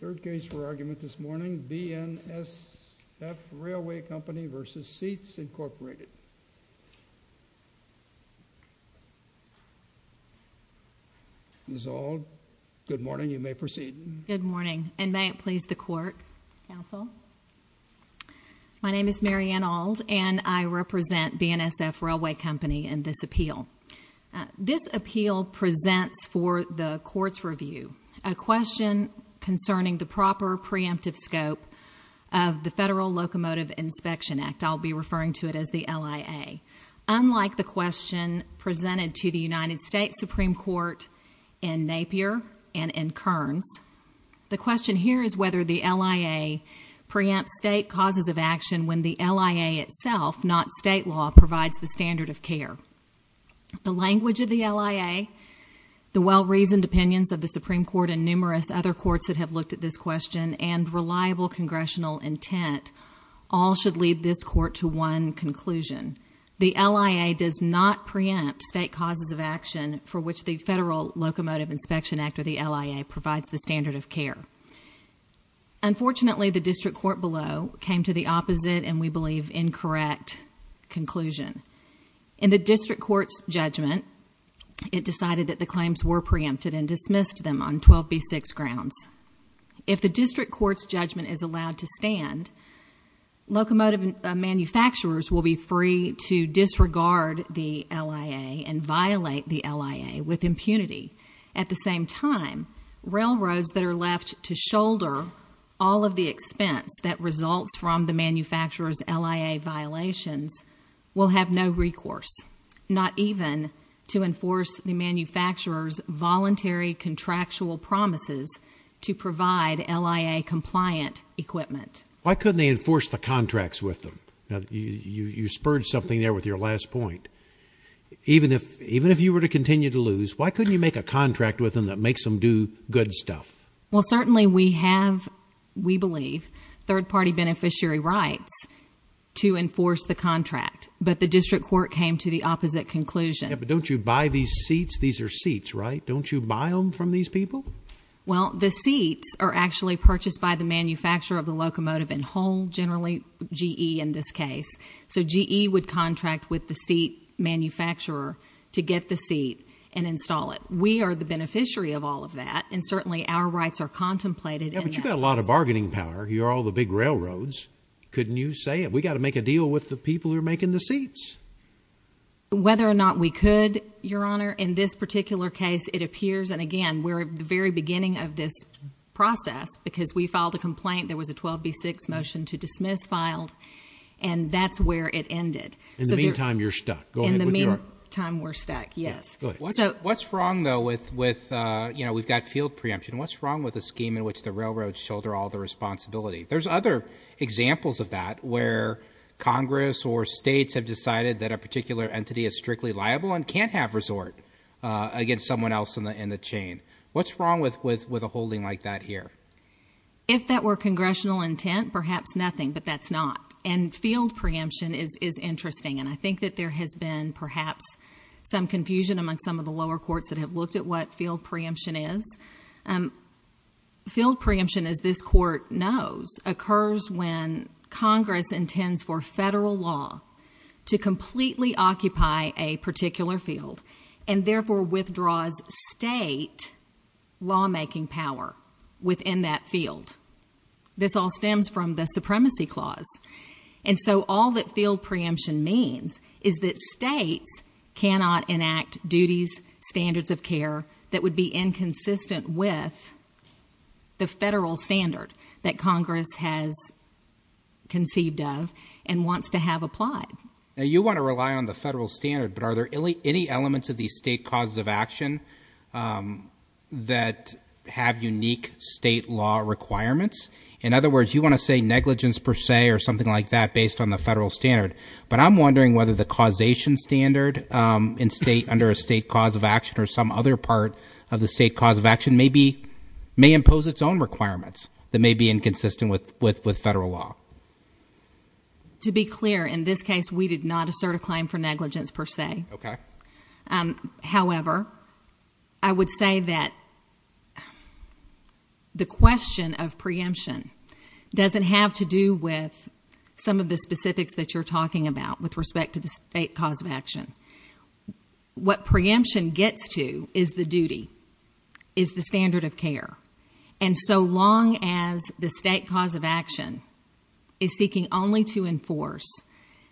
Third case for argument this morning, BNSF Railway Company v. Seats, Incorporated. Ms. Auld, good morning. You may proceed. Good morning, and may it please the Court, Counsel. My name is Mary Ann Auld, and I represent BNSF Railway Company in this appeal. This appeal presents for the Court's review a question concerning the proper preemptive scope of the Federal Locomotive Inspection Act. I'll be referring to it as the LIA. Unlike the question presented to the United States Supreme Court in Napier and in Kearns, the question here is whether the LIA preempts state causes of action when the LIA itself, not state law, provides the standard of care. The language of the LIA, the well-reasoned opinions of the Supreme Court and numerous other courts that have looked at this question, and reliable Congressional intent all should lead this Court to one conclusion. The LIA does not preempt state causes of action for which the Federal Locomotive Inspection Act or the LIA provides the standard of care. Unfortunately, the District Court below came to the opposite and, we believe, incorrect conclusion. In the District Court's judgment, it decided that the claims were preempted and dismissed them on 12B6 grounds. If the District Court's judgment is allowed to stand, locomotive manufacturers will be free to disregard the LIA and violate the LIA with impunity. At the same time, railroads that are left to shoulder all of the expense that results from the manufacturer's LIA violations will have no recourse, not even to enforce the manufacturer's voluntary contractual promises to provide LIA-compliant equipment. Why couldn't they enforce the contracts with them? You spurred something there with your last point. Even if you were to continue to lose, why couldn't you make a contract with them that makes them do good stuff? Well, certainly we have, we believe, third-party beneficiary rights to enforce the contract, but the District Court came to the opposite conclusion. Yeah, but don't you buy these seats? These are seats, right? Don't you buy them from these people? Well, the seats are actually purchased by the manufacturer of the locomotive in whole, generally GE in this case. So GE would contract with the seat manufacturer to get the seat and install it. We are the beneficiary of all of that, and certainly our rights are contemplated. Yeah, but you've got a lot of bargaining power. You're all the big railroads. Couldn't you say it? We've got to make a deal with the people who are making the seats. Whether or not we could, Your Honor, in this particular case, it appears, and again, we're at the very beginning of this process, because we filed a complaint. There was a 12B6 motion to dismiss filed, and that's where it ended. In the meantime, you're stuck. Go ahead. In the meantime, we're stuck, yes. What's wrong, though, with, you know, we've got field preemption. What's wrong with the scheme in which the railroads shoulder all the responsibility? There's other examples of that where Congress or states have decided that a particular entity is strictly liable and can't have resort against someone else in the chain. What's wrong with a holding like that here? If that were congressional intent, perhaps nothing, but that's not. And field preemption is interesting, and I think that there has been perhaps some confusion among some of the lower courts that have looked at what field preemption is. Field preemption, as this court knows, occurs when Congress intends for federal law to completely occupy a particular field and therefore withdraws state lawmaking power within that field. This all stems from the Supremacy Clause. And so all that field preemption means is that states cannot enact duties, standards of care, that would be inconsistent with the federal standard that Congress has conceived of and wants to have applied. Now, you want to rely on the federal standard, but are there any elements of these state causes of action that have unique state law requirements? In other words, you want to say negligence per se or something like that based on the federal standard, but I'm wondering whether the causation standard under a state cause of action or some other part of the state cause of action may impose its own requirements that may be inconsistent with federal law. To be clear, in this case, we did not assert a claim for negligence per se. However, I would say that the question of preemption doesn't have to do with some of the specifics that you're talking about with respect to the state cause of action. What preemption gets to is the duty, is the standard of care. And so long as the state cause of action is seeking only to enforce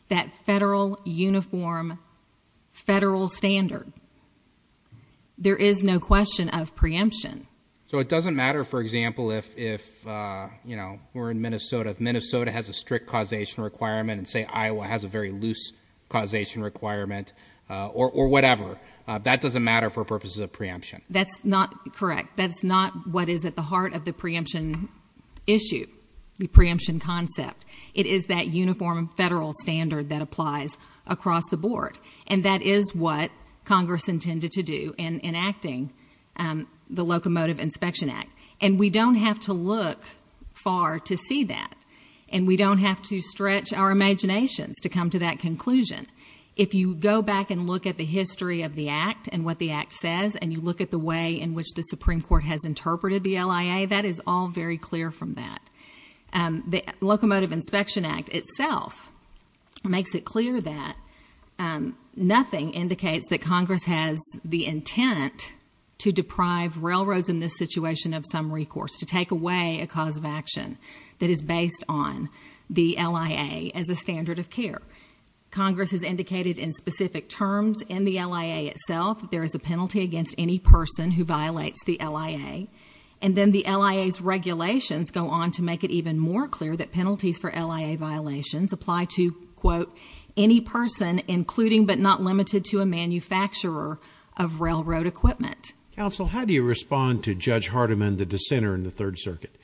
that federal uniform, federal standard, there is no question of preemption. So it doesn't matter, for example, if we're in Minnesota, if Minnesota has a strict causation requirement and, say, Iowa has a very loose causation requirement or whatever. That doesn't matter for purposes of preemption. That's not correct. That's not what is at the heart of the preemption issue, the preemption concept. It is that uniform federal standard that applies across the board, and that is what Congress intended to do in enacting the Locomotive Inspection Act. And we don't have to look far to see that, and we don't have to stretch our imaginations to come to that conclusion. If you go back and look at the history of the Act and what the Act says and you look at the way in which the Supreme Court has interpreted the LIA, that is all very clear from that. The Locomotive Inspection Act itself makes it clear that nothing indicates that Congress has the intent to deprive railroads in this situation of some recourse, to take away a cause of action that is based on the LIA as a standard of care. Congress has indicated in specific terms in the LIA itself that there is a penalty against any person who violates the LIA. And then the LIA's regulations go on to make it even more clear that penalties for LIA violations apply to, quote, any person including but not limited to a manufacturer of railroad equipment. Counsel, how do you respond to Judge Hardiman, the dissenter in the Third Circuit?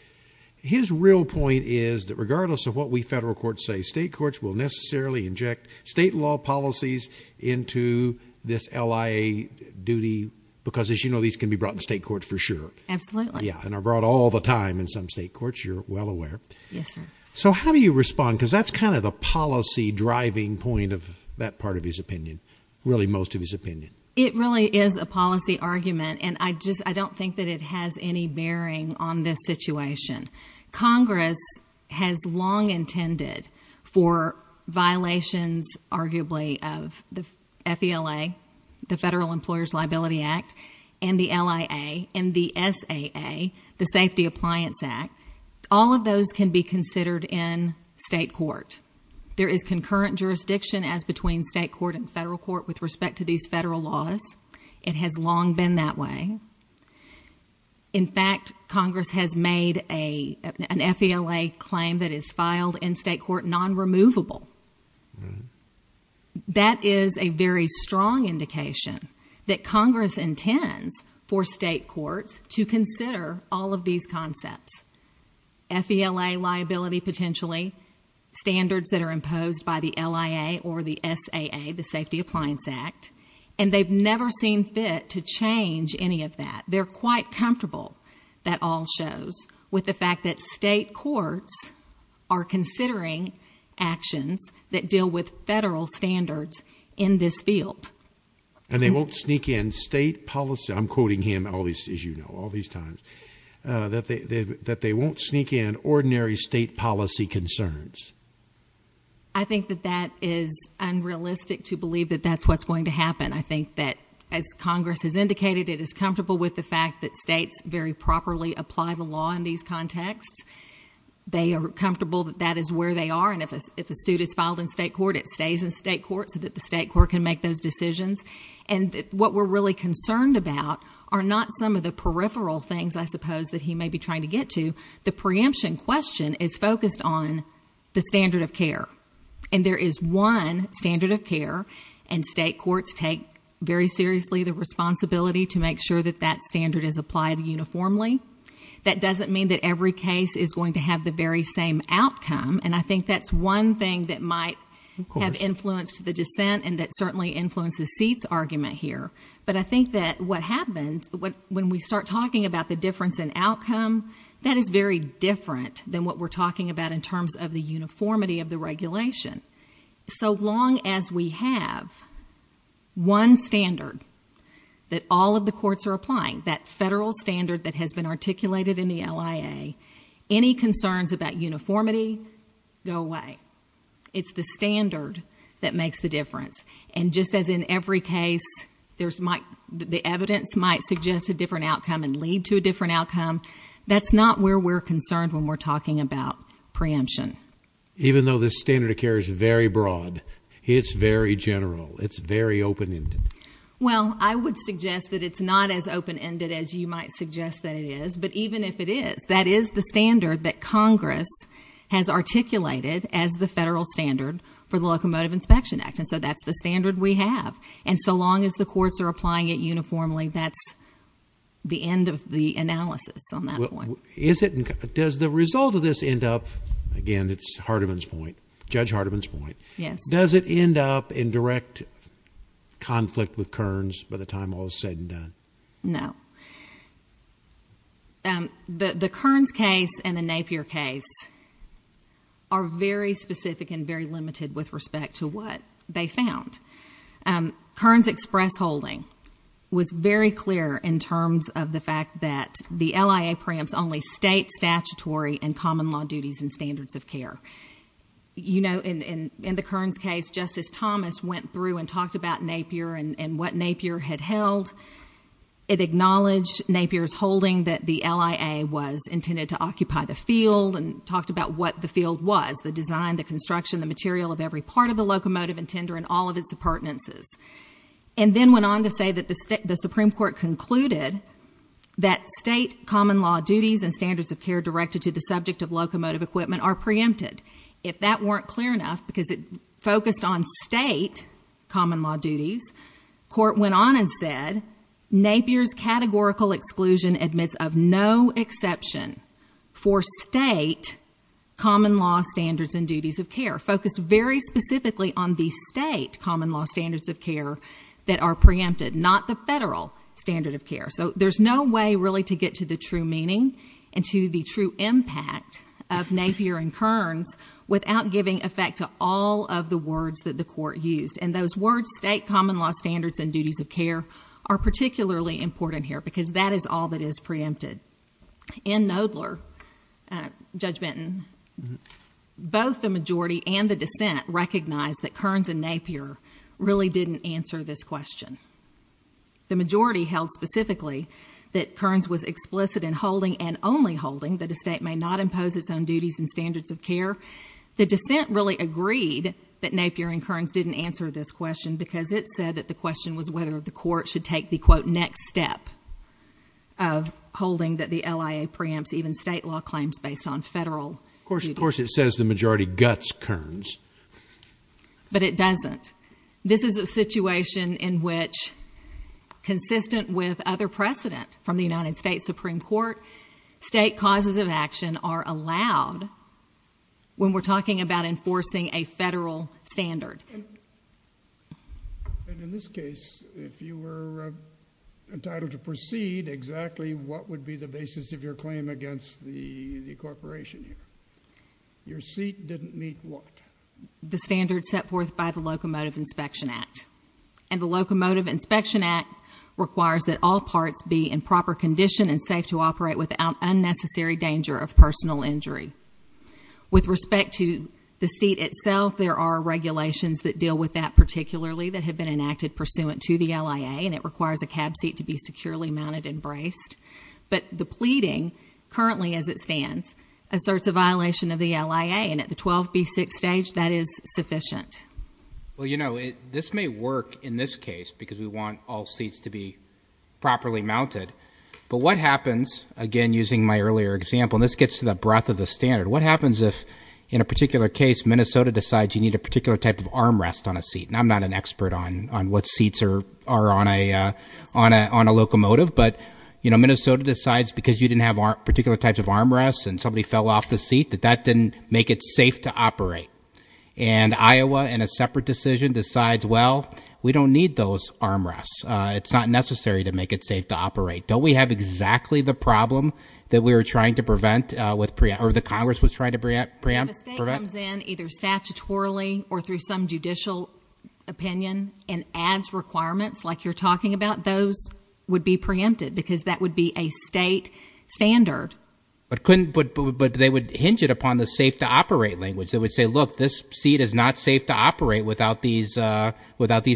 His real point is that regardless of what we federal courts say, state courts will necessarily inject state law policies into this LIA duty because, as you know, these can be brought to state courts for sure. Absolutely. Yeah, and are brought all the time in some state courts, you're well aware. Yes, sir. So how do you respond? Because that's kind of the policy driving point of that part of his opinion, really most of his opinion. It really is a policy argument, and I don't think that it has any bearing on this situation. Congress has long intended for violations, arguably, of the FELA, the Federal Employers Liability Act, and the LIA, and the SAA, the Safety Appliance Act. All of those can be considered in state court. There is concurrent jurisdiction as between state court and federal court with respect to these federal laws. It has long been that way. In fact, Congress has made an FELA claim that is filed in state court non-removable. That is a very strong indication that Congress intends for state courts to consider all of these concepts. FELA liability potentially, standards that are imposed by the LIA or the SAA, the Safety Appliance Act, and they've never seen fit to change any of that. They're quite comfortable, that all shows, with the fact that state courts are considering actions that deal with federal standards in this field. And they won't sneak in state policy. I'm quoting him all these, as you know, all these times, that they won't sneak in ordinary state policy concerns. I think that that is unrealistic to believe that that's what's going to happen. I think that, as Congress has indicated, it is comfortable with the fact that states very properly apply the law in these contexts. They are comfortable that that is where they are. And if a suit is filed in state court, it stays in state court so that the state court can make those decisions. And what we're really concerned about are not some of the peripheral things, I suppose, that he may be trying to get to. The preemption question is focused on the standard of care. And there is one standard of care, and state courts take very seriously the responsibility to make sure that that standard is applied uniformly. That doesn't mean that every case is going to have the very same outcome. And I think that's one thing that might have influenced the dissent and that certainly influences seats argument here. But I think that what happens when we start talking about the difference in outcome, that is very different than what we're talking about in terms of the uniformity of the regulation. So long as we have one standard that all of the courts are applying, that federal standard that has been articulated in the LIA, any concerns about uniformity go away. It's the standard that makes the difference. And just as in every case, the evidence might suggest a different outcome and lead to a different outcome, that's not where we're concerned when we're talking about preemption. Even though the standard of care is very broad, it's very general. It's very open-ended. Well, I would suggest that it's not as open-ended as you might suggest that it is. But even if it is, that is the standard that Congress has articulated as the federal standard for the Locomotive Inspection Act. And so that's the standard we have. And so long as the courts are applying it uniformly, that's the end of the analysis on that one. Does the result of this end up, again, it's Hardiman's point, Judge Hardiman's point. Yes. Does it end up in direct conflict with Kearns by the time all is said and done? No. The Kearns case and the Napier case are very specific and very limited with respect to what they found. Kearns' express holding was very clear in terms of the fact that the LIA preempts only state statutory and common law duties and standards of care. You know, in the Kearns case, Justice Thomas went through and talked about Napier and what Napier had held. It acknowledged Napier's holding that the LIA was intended to occupy the field and talked about what the field was, the design, the construction, the material of every part of the locomotive and tender and all of its appurtenances. And then went on to say that the Supreme Court concluded that state common law duties and standards of care directed to the subject of locomotive equipment are preempted. If that weren't clear enough, because it focused on state common law duties, court went on and said, Napier's categorical exclusion admits of no exception for state common law standards and duties of care, focused very specifically on the state common law standards of care that are preempted, not the federal standard of care. So there's no way really to get to the true meaning and to the true impact of Napier and Kearns without giving effect to all of the words that the court used. And those words, state common law standards and duties of care, are particularly important here because that is all that is preempted. In Knoedler, Judge Benton, both the majority and the dissent recognized that Kearns and Napier really didn't answer this question. The majority held specifically that Kearns was explicit in holding and only holding that a state may not impose its own duties and standards of care. The dissent really agreed that Napier and Kearns didn't answer this question because it said that the question was whether the court should take the quote next step of holding that the LIA preempts even state law claims based on federal duties. Of course it says the majority guts Kearns. But it doesn't. This is a situation in which, consistent with other precedent from the United States Supreme Court, state causes of action are allowed when we're talking about enforcing a federal standard. And in this case, if you were entitled to proceed, exactly what would be the basis of your claim against the corporation here? Your seat didn't meet what? The standards set forth by the Locomotive Inspection Act. And the Locomotive Inspection Act requires that all parts be in proper condition and safe to operate without unnecessary danger of personal injury. With respect to the seat itself, there are regulations that deal with that particularly that have been enacted pursuant to the LIA and it requires a cab seat to be securely mounted and braced. But the pleading, currently as it stands, asserts a violation of the LIA and at the 12B6 stage, that is sufficient. Well, you know, this may work in this case because we want all seats to be properly mounted. But what happens, again using my earlier example, and this gets to the breadth of the standard. What happens if, in a particular case, Minnesota decides you need a particular type of armrest on a seat? I'm not an expert on what seats are on a locomotive. But, you know, Minnesota decides because you didn't have particular types of armrests and somebody fell off the seat, that that didn't make it safe to operate. And Iowa, in a separate decision, decides, well, we don't need those armrests. It's not necessary to make it safe to operate. Don't we have exactly the problem that we were trying to prevent or the Congress was trying to preempt? If a state comes in either statutorily or through some judicial opinion and adds requirements like you're talking about, those would be preempted because that would be a state standard. But they would hinge it upon the safe to operate language. They would say, look, this seat is not safe to operate without these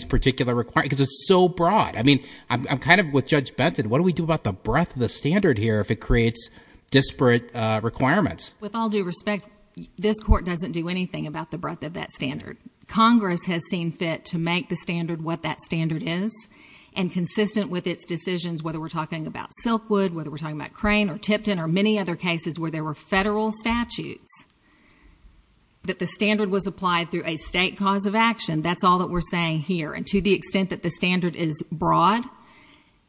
particular requirements because it's so broad. I mean, I'm kind of with Judge Benton. What do we do about the breadth of the standard here if it creates disparate requirements? With all due respect, this court doesn't do anything about the breadth of that standard. Congress has seen fit to make the standard what that standard is and consistent with its decisions, whether we're talking about Silkwood, whether we're talking about Crane or Tipton or many other cases where there were federal statutes, that the standard was applied through a state cause of action. That's all that we're saying here. And to the extent that the standard is broad,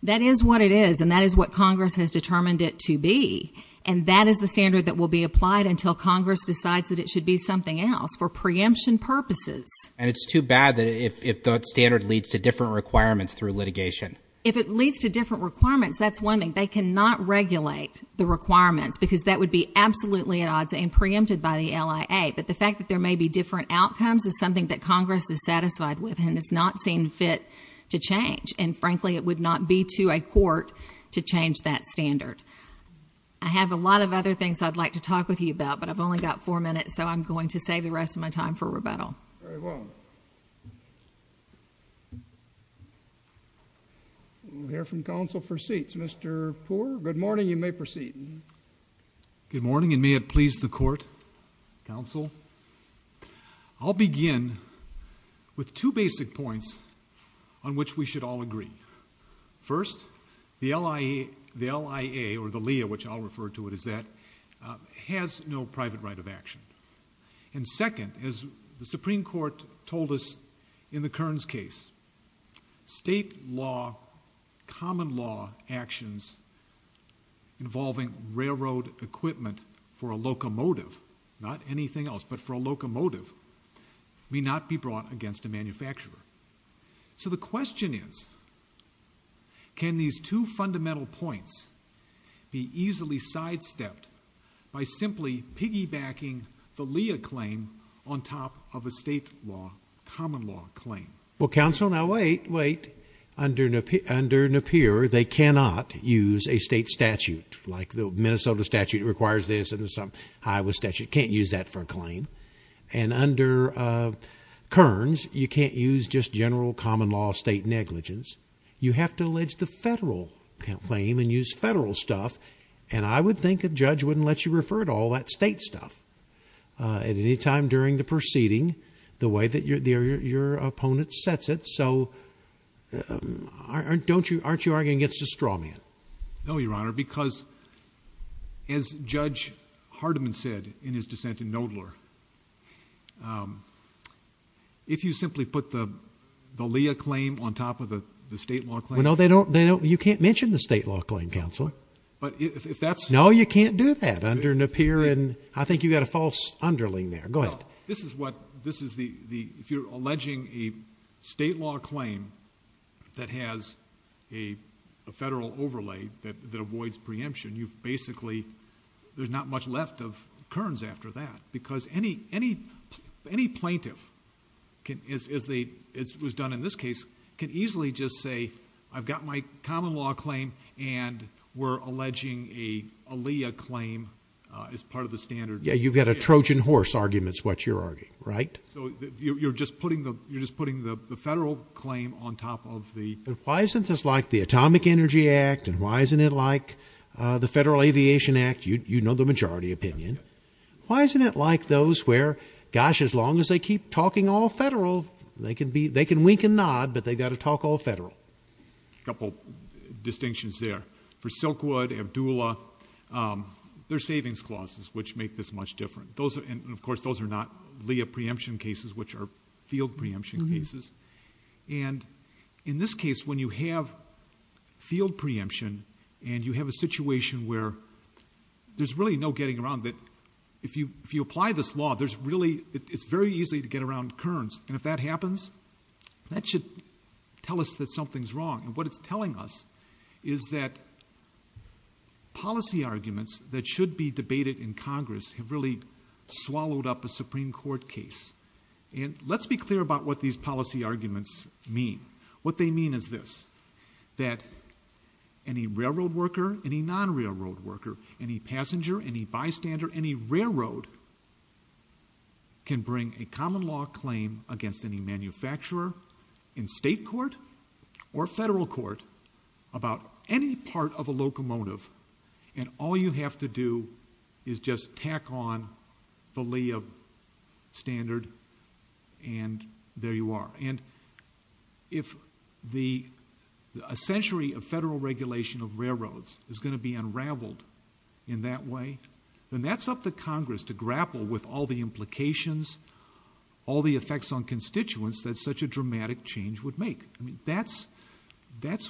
that is what it is. And that is what Congress has determined it to be. And that is the standard that will be applied until Congress decides that it should be something else for preemption purposes. And it's too bad that if that standard leads to different requirements through litigation. If it leads to different requirements, that's one thing. They cannot regulate the requirements because that would be absolutely at odds and preempted by the LIA. But the fact that there may be different outcomes is something that Congress is satisfied with and has not seen fit to change. And frankly, it would not be to a court to change that standard. I have a lot of other things I'd like to talk with you about, but I've only got four minutes, so I'm going to save the rest of my time for rebuttal. Very well. We'll hear from counsel for seats. Mr. Poore, good morning. You may proceed. Good morning, and may it please the court, counsel. I'll begin with two basic points on which we should all agree. First, the LIA, or the LIA, which I'll refer to it as that, has no private right of action. And second, as the Supreme Court told us in the Kearns case, state law, common law actions involving railroad equipment for a locomotive, not anything else but for a locomotive, may not be brought against a manufacturer. So the question is, can these two fundamental points be easily sidestepped by simply piggybacking the LIA claim on top of a state law, common law claim? Well, counsel, now wait, wait. Under Napier, they cannot use a state statute. Like the Minnesota statute requires this, and the Iowa statute can't use that for a claim. And under Kearns, you can't use just general common law state negligence. You have to allege the federal claim and use federal stuff. And I would think a judge wouldn't let you refer to all that state stuff at any time during the proceeding the way that your opponent sets it. So aren't you arguing against a straw man? No, Your Honor, because as Judge Hardiman said in his dissent in Knoedler, if you simply put the LIA claim on top of the state law claim. Well, no, they don't. You can't mention the state law claim, counsel. No, you can't do that under Napier. And I think you've got a false underling there. Go ahead. If you're alleging a state law claim that has a federal overlay that avoids preemption, you've basically, there's not much left of Kearns after that. Because any plaintiff, as was done in this case, can easily just say, I've got my common law claim and we're alleging a LIA claim as part of the standard. Yeah, you've got a Trojan horse argument is what you're arguing, right? So you're just putting the federal claim on top of the. Why isn't this like the Atomic Energy Act? And why isn't it like the Federal Aviation Act? You know the majority opinion. Why isn't it like those where, gosh, as long as they keep talking all federal, they can wink and nod, but they've got to talk all federal. Couple distinctions there. For Silkwood, Abdulla, there's savings clauses which make this much different. And of course, those are not LIA preemption cases, which are field preemption cases. And in this case, when you have field preemption and you have a situation where there's really no getting around it. If you apply this law, it's very easy to get around Kearns. And if that happens, that should tell us that something's wrong. And what it's telling us is that policy arguments that should be debated in Congress have really swallowed up a Supreme Court case. And let's be clear about what these policy arguments mean. What they mean is this, that any railroad worker, any non-railroad worker, any passenger, any bystander, any railroad can bring a common law claim against any manufacturer in state court or federal court about any part of a locomotive. And all you have to do is just tack on the LIA standard, and there you are. And if a century of federal regulation of railroads is going to be unraveled in that way, then that's up to Congress to grapple with all the implications, all the effects on constituents that such a dramatic change would make. I mean, that's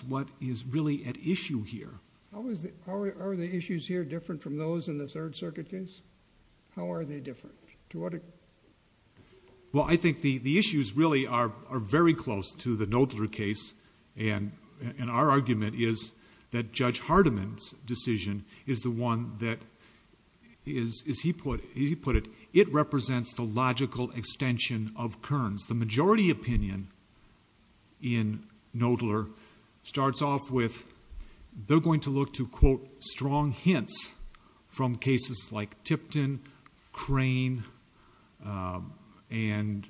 what is really at issue here. How are the issues here different from those in the Third Circuit case? How are they different? Well, I think the issues really are very close to the Knoedler case. And our argument is that Judge Hardiman's decision is the one that, as he put it, it represents the logical extension of Kearns. The majority opinion in Knoedler starts off with they're going to look to, quote, strong hints from cases like Tipton, Crane, and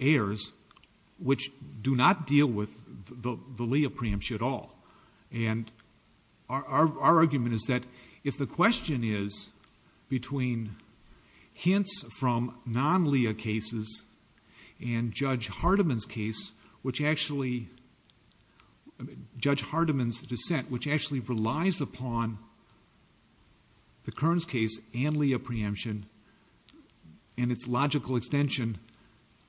Ayers, which do not deal with the LIA preemption at all. And our argument is that if the question is between hints from non-LIA cases and Judge Hardiman's case, which actually, Judge Hardiman's dissent, which actually relies upon the Kearns case and LIA preemption and its logical extension,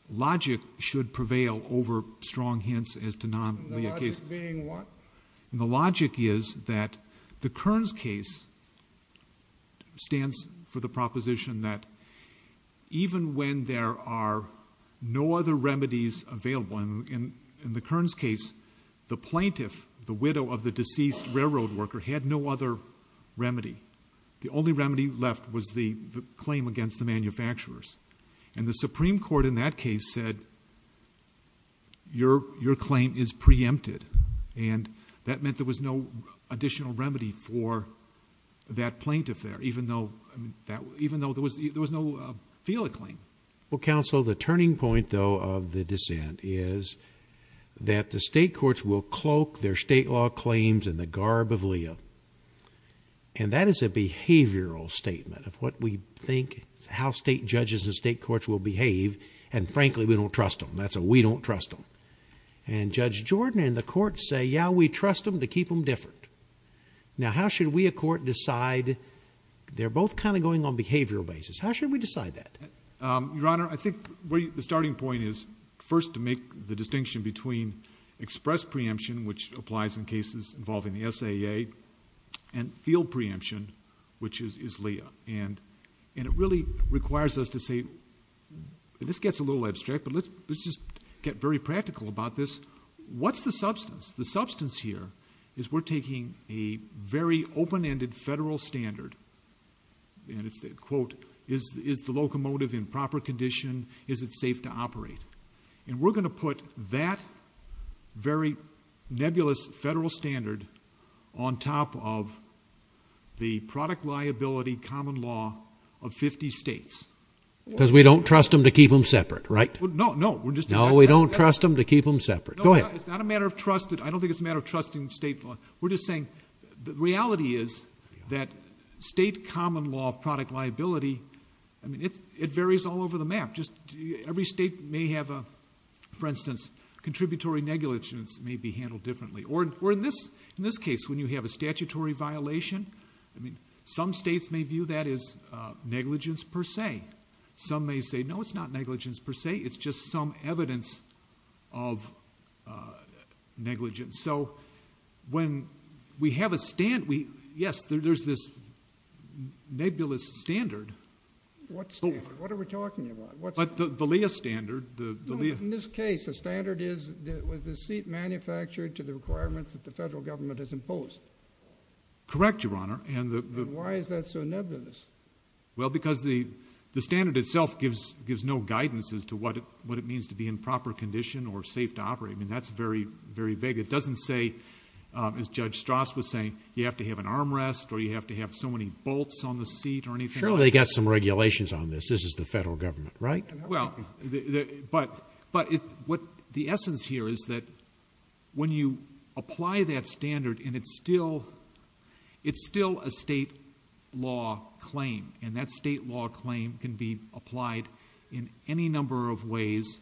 logic should prevail over strong hints as to non-LIA cases. And the logic is that the Kearns case stands for the proposition that even when there are no other remedies available, in the Kearns case, the plaintiff, the widow of the deceased railroad worker, had no other remedy. The only remedy left was the claim against the manufacturers. And the Supreme Court in that case said, your claim is preempted. And that meant there was no additional remedy for that plaintiff there, even though there was no FELA claim. Well, counsel, the turning point, though, of the dissent is that the state courts will cloak their state law claims in the garb of LIA. And that is a behavioral statement of what we think, how state judges and state courts will behave. And frankly, we don't trust them. That's a we don't trust them. And Judge Jordan and the court say, yeah, we trust them to keep them different. Now, how should we, a court, decide? They're both kind of going on behavioral basis. How should we decide that? Your Honor, I think the starting point is first to make the distinction between express preemption, which applies in cases involving the SAA, and field preemption, which is LIA. And it really requires us to say, and this gets a little abstract, but let's just get very practical about this. What's the substance? The substance here is we're taking a very open-ended federal standard, and it's, quote, is the locomotive in proper condition? Is it safe to operate? And we're going to put that very nebulous federal standard on top of the product liability common law of 50 states. Because we don't trust them to keep them separate, right? No, no. No, we don't trust them to keep them separate. Go ahead. It's not a matter of trust. I don't think it's a matter of trusting state law. We're just saying the reality is that state common law product liability, I mean, it varies all over the map. Every state may have a, for instance, contributory negligence may be handled differently. Or in this case, when you have a statutory violation, I mean, some states may view that as negligence per se. Some may say, no, it's not negligence per se. It's just some evidence of negligence. So when we have a standard, yes, there's this nebulous standard. What standard? What are we talking about? The LEIA standard. In this case, the standard is was the seat manufactured to the requirements that the federal government has imposed? Correct, Your Honor. Why is that so nebulous? Well, because the standard itself gives no guidance as to what it means to be in proper condition or safe to operate. I mean, that's very, very vague. It doesn't say, as Judge Strass was saying, you have to have an armrest or you have to have so many bolts on the seat or anything like that. Surely they've got some regulations on this. This is the federal government, right? Well, but the essence here is that when you apply that standard and it's still a state law claim, and that state law claim can be applied in any number of ways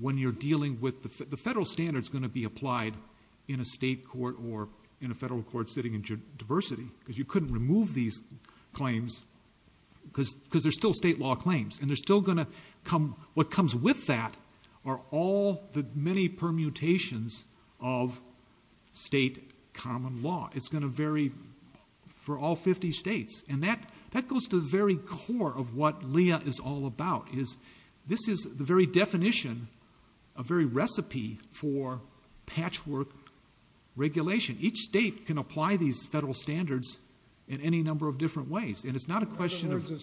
when you're dealing with the federal standard is going to be applied in a state court or in a federal court sitting in diversity because you couldn't remove these claims because they're still state law claims. And what comes with that are all the many permutations of state common law. It's going to vary for all 50 states. And that goes to the very core of what Leah is all about. This is the very definition, a very recipe for patchwork regulation. Each state can apply these federal standards in any number of different ways. And it's not a question of— In other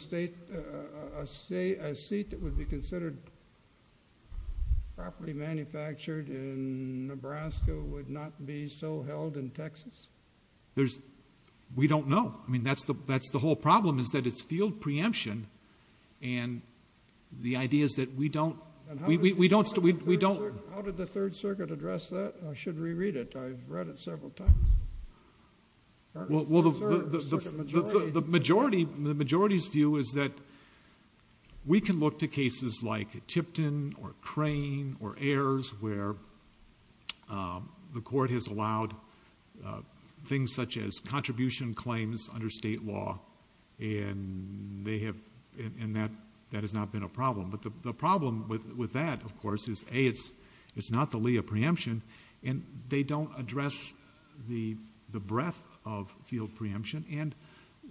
words, a seat that would be considered properly manufactured in Nebraska would not be so held in Texas? We don't know. I mean, that's the whole problem is that it's field preemption, and the idea is that we don't— How did the Third Circuit address that? I should reread it. I've read it several times. Well, the majority's view is that we can look to cases like Tipton or Crane or Ayers where the court has allowed things such as contribution claims under state law, and that has not been a problem. But the problem with that, of course, is, A, it's not the Leah preemption, and they don't address the breadth of field preemption, and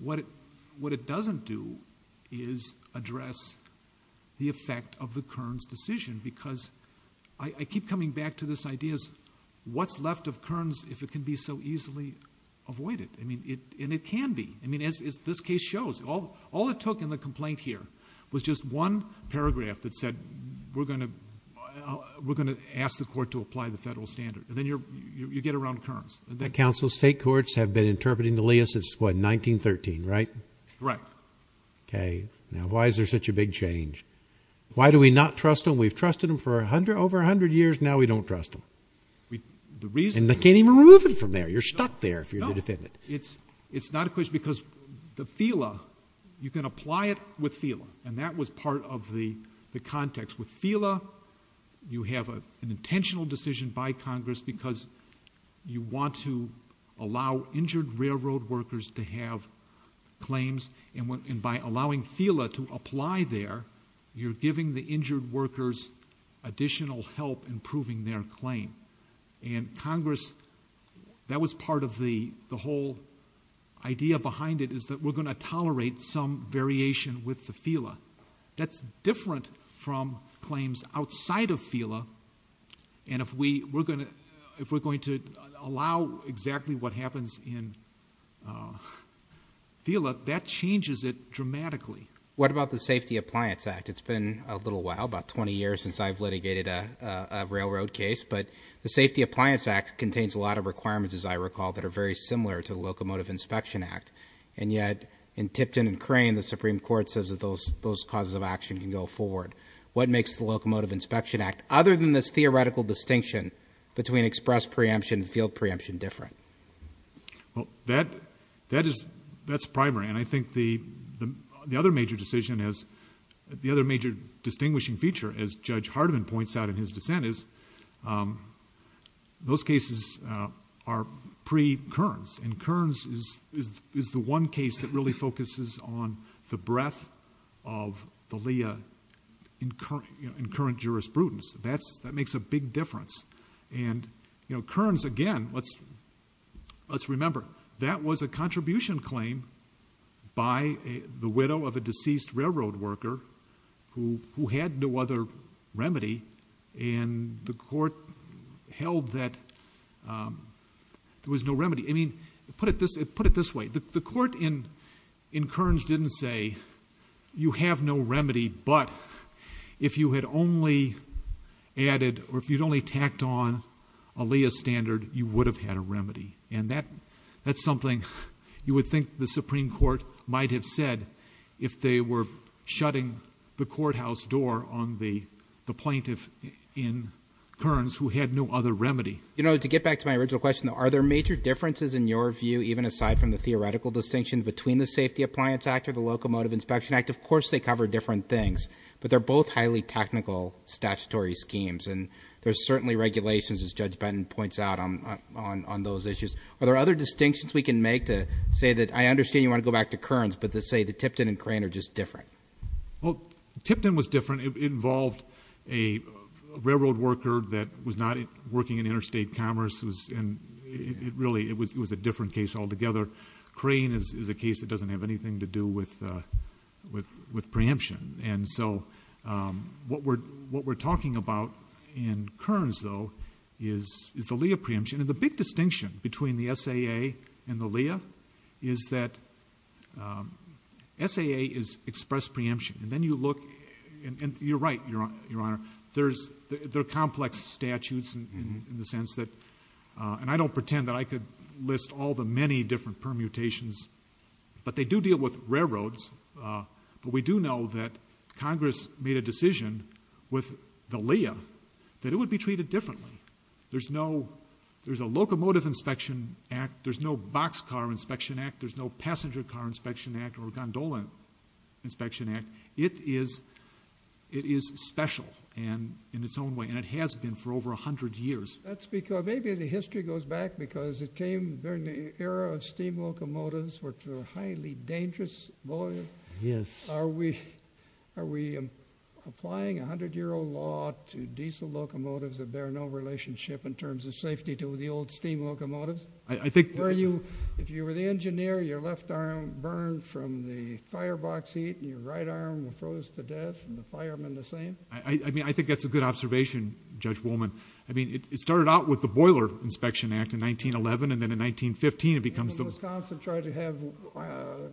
what it doesn't do is address the effect of the Kearns decision because I keep coming back to this idea of what's left of Kearns if it can be so easily avoided? And it can be. I mean, as this case shows, all it took in the complaint here was just one paragraph that said, We're going to ask the court to apply the federal standard. And then you get around Kearns. The council state courts have been interpreting the Leah since, what, 1913, right? Right. Okay. Now, why is there such a big change? Why do we not trust them? We've trusted them for over 100 years. Now we don't trust them. And they can't even remove it from there. You're stuck there if you're the defendant. No. It's not a question because the FELA, you can apply it with FELA, and that was part of the context. With FELA, you have an intentional decision by Congress because you want to allow injured railroad workers to have claims, and by allowing FELA to apply there, you're giving the injured workers additional help in proving their claim. And Congress, that was part of the whole idea behind it, is that we're going to tolerate some variation with the FELA. That's different from claims outside of FELA, and if we're going to allow exactly what happens in FELA, that changes it dramatically. What about the Safety Appliance Act? It's been a little while, about 20 years since I've litigated a railroad case, but the Safety Appliance Act contains a lot of requirements, as I recall, that are very similar to the Locomotive Inspection Act, and yet in Tipton and Crane, the Supreme Court says that those causes of action can go forward. What makes the Locomotive Inspection Act, other than this theoretical distinction between express preemption and field preemption, different? Well, that's primary, and I think the other major distinguishing feature, as Judge Hardiman points out in his dissent, is those cases are pre-Kearns, and Kearns is the one case that really focuses on the breadth of the LEIA in current jurisprudence. That makes a big difference. Kearns, again, let's remember, that was a contribution claim by the widow of a deceased railroad worker who had no other remedy, and the court held that there was no remedy. I mean, put it this way. The court in Kearns didn't say, you have no remedy, but if you had only added, or if you'd only tacked on a LEIA standard, you would have had a remedy, and that's something you would think the Supreme Court might have said if they were shutting the courthouse door on the plaintiff in Kearns who had no other remedy. You know, to get back to my original question, are there major differences in your view, even aside from the theoretical distinction between the Safety Appliance Act or the Locomotive Inspection Act? Of course they cover different things, but they're both highly technical statutory schemes, and there's certainly regulations, as Judge Benton points out, on those issues. Are there other distinctions we can make to say that I understand you want to go back to Kearns, but to say that Tipton and Crane are just different? Well, Tipton was different. It involved a railroad worker that was not working in interstate commerce, and really it was a different case altogether. Crane is a case that doesn't have anything to do with preemption. And so what we're talking about in Kearns, though, is the LEIA preemption. And the big distinction between the SAA and the LEIA is that SAA is express preemption, and then you look, and you're right, Your Honor, there are complex statutes in the sense that, and I don't pretend that I could list all the many different permutations, but they do deal with railroads. But we do know that Congress made a decision with the LEIA that it would be treated differently. There's a Locomotive Inspection Act. There's no Box Car Inspection Act. There's no Passenger Car Inspection Act or Gondola Inspection Act. It is special in its own way, and it has been for over 100 years. Maybe the history goes back because it came during the era of steam locomotives, which were a highly dangerous volume. Are we applying a 100-year-old law to diesel locomotives that bear no relationship in terms of safety to the old steam locomotives? If you were the engineer, your left arm burned from the firebox heat and your right arm froze to death and the fireman the same? I think that's a good observation, Judge Woolman. It started out with the Boiler Inspection Act in 1911, and then in 1915 it becomes the— Did Wisconsin try to have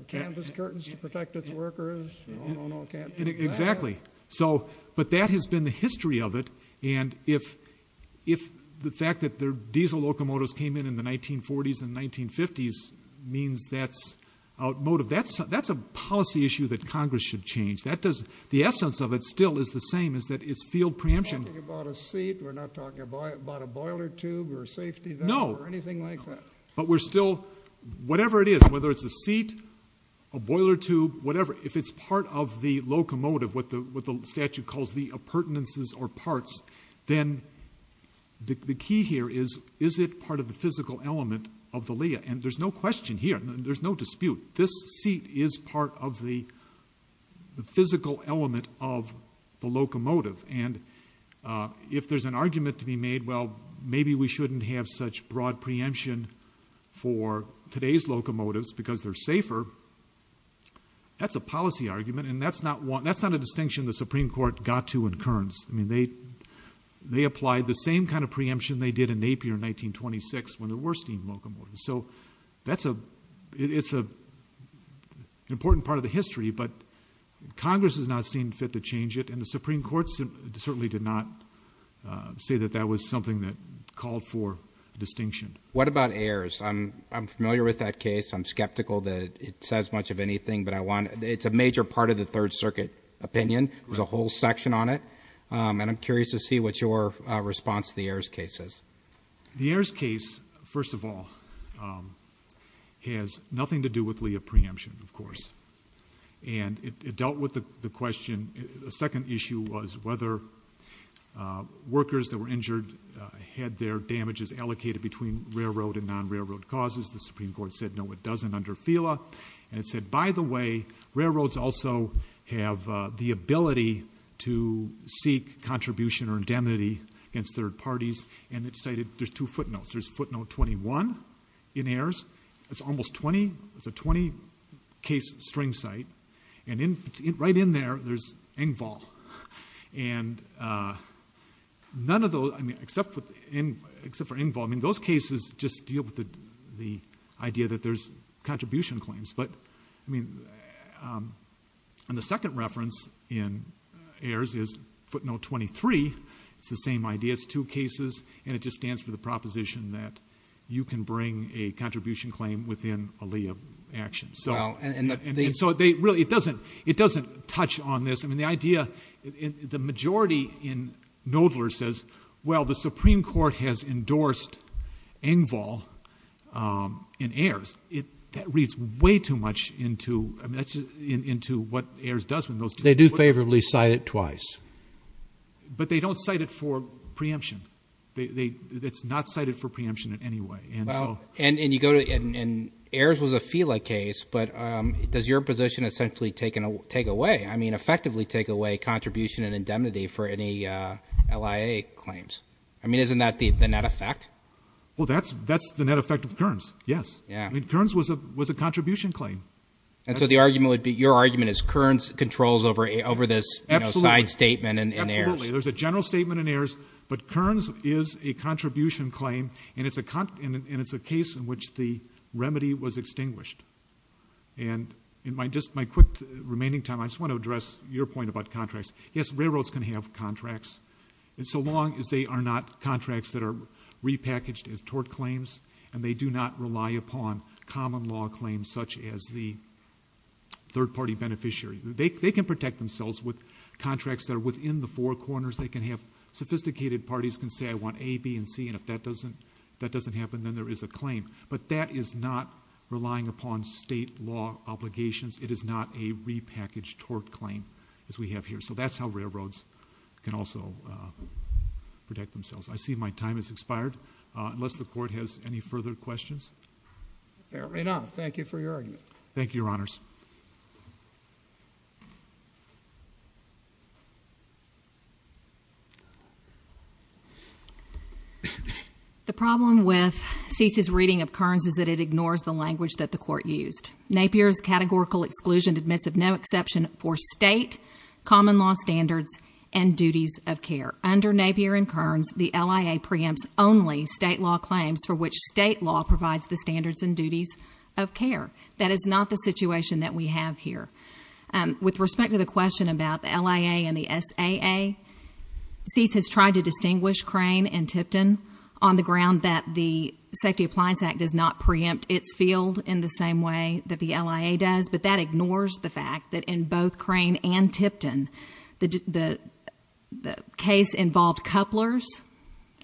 canvas curtains to protect its workers? No, no, no, it can't do that. Exactly. But that has been the history of it, and the fact that diesel locomotives came in in the 1940s and 1950s means that's outmoded. That's a policy issue that Congress should change. The essence of it still is the same, is that it's field preemption. We're not talking about a seat. We're not talking about a boiler tube or a safety valve or anything like that. But we're still, whatever it is, whether it's a seat, a boiler tube, whatever, if it's part of the locomotive, what the statute calls the appurtenances or parts, then the key here is, is it part of the physical element of the LEIA? And there's no question here. There's no dispute. This seat is part of the physical element of the locomotive. And if there's an argument to be made, well, maybe we shouldn't have such broad preemption for today's locomotives because they're safer, that's a policy argument, and that's not a distinction the Supreme Court got to in Kearns. I mean, they applied the same kind of preemption they did in Napier in 1926 when there were steam locomotives. So it's an important part of the history, but Congress has not seen fit to change it, and the Supreme Court certainly did not say that that was something that called for distinction. What about Ayers? I'm familiar with that case. I'm skeptical that it says much of anything, but it's a major part of the Third Circuit opinion. There's a whole section on it, and I'm curious to see what your response to the Ayers case is. The Ayers case, first of all, has nothing to do with LEIA preemption, of course, and it dealt with the question. The second issue was whether workers that were injured had their damages allocated between railroad and non-railroad causes. The Supreme Court said no, it doesn't under FELA, and it said, by the way, railroads also have the ability to seek contribution or indemnity against third parties, and it cited just two footnotes. There's footnote 21 in Ayers. It's almost 20. It's a 20-case string cite, and right in there, there's Engvall. And none of those, I mean, except for Engvall, I mean, those cases just deal with the idea that there's contribution claims. But, I mean, and the second reference in Ayers is footnote 23. It's the same idea. It's two cases, and it just stands for the proposition that you can bring a contribution claim within a LEIA action. So it doesn't touch on this. I mean, the idea, the majority in Knoedler says, well, the Supreme Court has endorsed Engvall in Ayers. That reads way too much into what Ayers does with those two footnotes. They do favorably cite it twice. But they don't cite it for preemption. It's not cited for preemption in any way. And Ayers was a FELA case, but does your position essentially take away, I mean, effectively take away contribution and indemnity for any LEIA claims? I mean, isn't that the net effect? Well, that's the net effect of Kearns, yes. Kearns was a contribution claim. And so your argument is Kearns controls over this side statement in Ayers? Absolutely. There's a general statement in Ayers, but Kearns is a contribution claim, and it's a case in which the remedy was extinguished. And just my quick remaining time, I just want to address your point about contracts. Yes, railroads can have contracts, so long as they are not contracts that are repackaged as tort claims and they do not rely upon common law claims such as the third-party beneficiary. They can protect themselves with contracts that are within the four corners. They can have sophisticated parties can say, I want A, B, and C, and if that doesn't happen, then there is a claim. But that is not relying upon state law obligations. It is not a repackaged tort claim as we have here. So that's how railroads can also protect themselves. I see my time has expired. Unless the Court has any further questions. Fair enough. Thank you for your argument. Thank you, Your Honors. The problem with Cease's reading of Kearns is that it ignores the language that the Court used. Napier's categorical exclusion admits of no exception for state common law standards and duties of care. Under Napier and Kearns, the LIA preempts only state law claims for which state law provides the standards and duties of care. That is not the situation that we have here. With respect to the question about the LIA and the SAA, Cease has tried to distinguish Crane and Tipton on the ground that the Safety Appliance Act does not preempt its field in the same way that the LIA does, but that ignores the fact that in both Crane and Tipton, the case involved couplers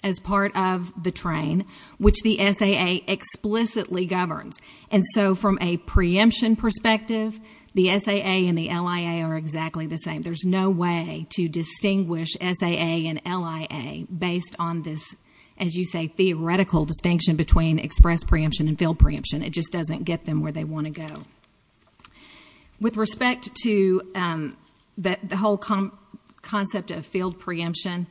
as part of the train, which the SAA explicitly governs. And so from a preemption perspective, the SAA and the LIA are exactly the same. There's no way to distinguish SAA and LIA based on this, as you say, theoretical distinction between express preemption and field preemption. It just doesn't get them where they want to go. With respect to the whole concept of field preemption,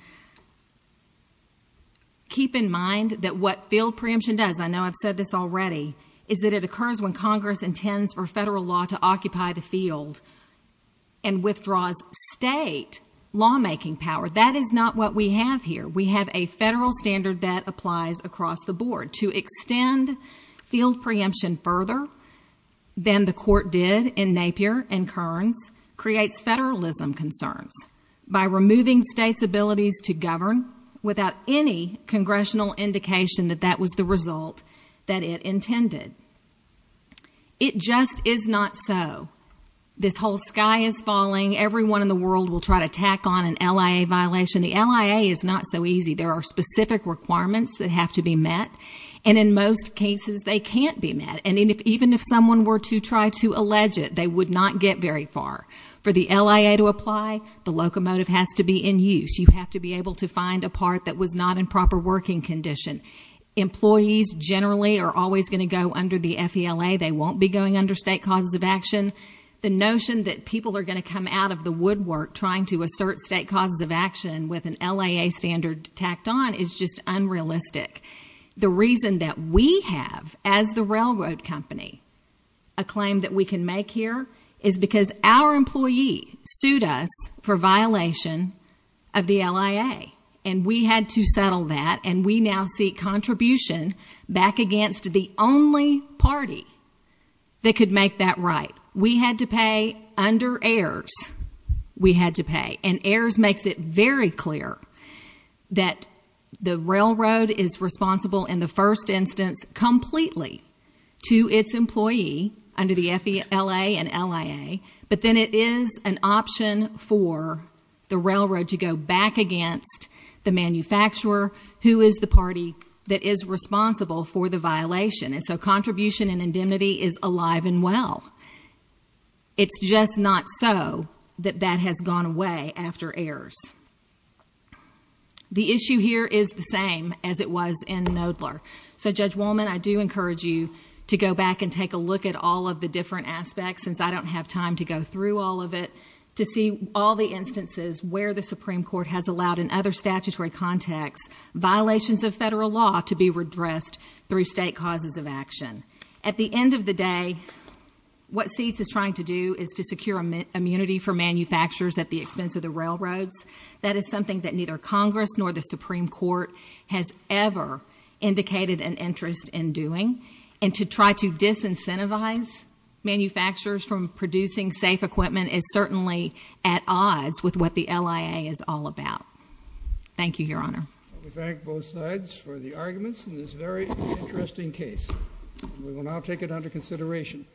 keep in mind that what field preemption does, I know I've said this already, is that it occurs when Congress intends for federal law to occupy the field and withdraws state lawmaking power. That is not what we have here. We have a federal standard that applies across the board. To extend field preemption further than the court did in Napier and Kearns creates federalism concerns by removing states' abilities to govern without any congressional indication that that was the result that it intended. It just is not so. This whole sky is falling. Everyone in the world will try to tack on an LIA violation. The LIA is not so easy. There are specific requirements that have to be met, and in most cases they can't be met. And even if someone were to try to allege it, they would not get very far. For the LIA to apply, the locomotive has to be in use. You have to be able to find a part that was not in proper working condition. Employees generally are always going to go under the FELA. They won't be going under state causes of action. The notion that people are going to come out of the woodwork trying to assert state causes of action with an LIA standard tacked on is just unrealistic. The reason that we have, as the railroad company, a claim that we can make here is because our employee sued us for violation of the LIA, and we had to settle that, and we now seek contribution back against the only party that could make that right. We had to pay under AERS. We had to pay, and AERS makes it very clear that the railroad is responsible in the first instance completely to its employee under the FELA and LIA, but then it is an option for the railroad to go back against the manufacturer, who is the party that is responsible for the violation. And so contribution and indemnity is alive and well. It's just not so that that has gone away after AERS. The issue here is the same as it was in Knoedler. So, Judge Wolman, I do encourage you to go back and take a look at all of the different aspects since I don't have time to go through all of it, to see all the instances where the Supreme Court has allowed in other statutory contexts violations of federal law to be redressed through state causes of action. At the end of the day, what SEEDS is trying to do is to secure immunity for manufacturers at the expense of the railroads. That is something that neither Congress nor the Supreme Court has ever indicated an interest in doing, and to try to disincentivize manufacturers from producing safe equipment is certainly at odds with what the LIA is all about. Thank you, Your Honor. We thank both sides for the arguments in this very interesting case. We will now take it under consideration.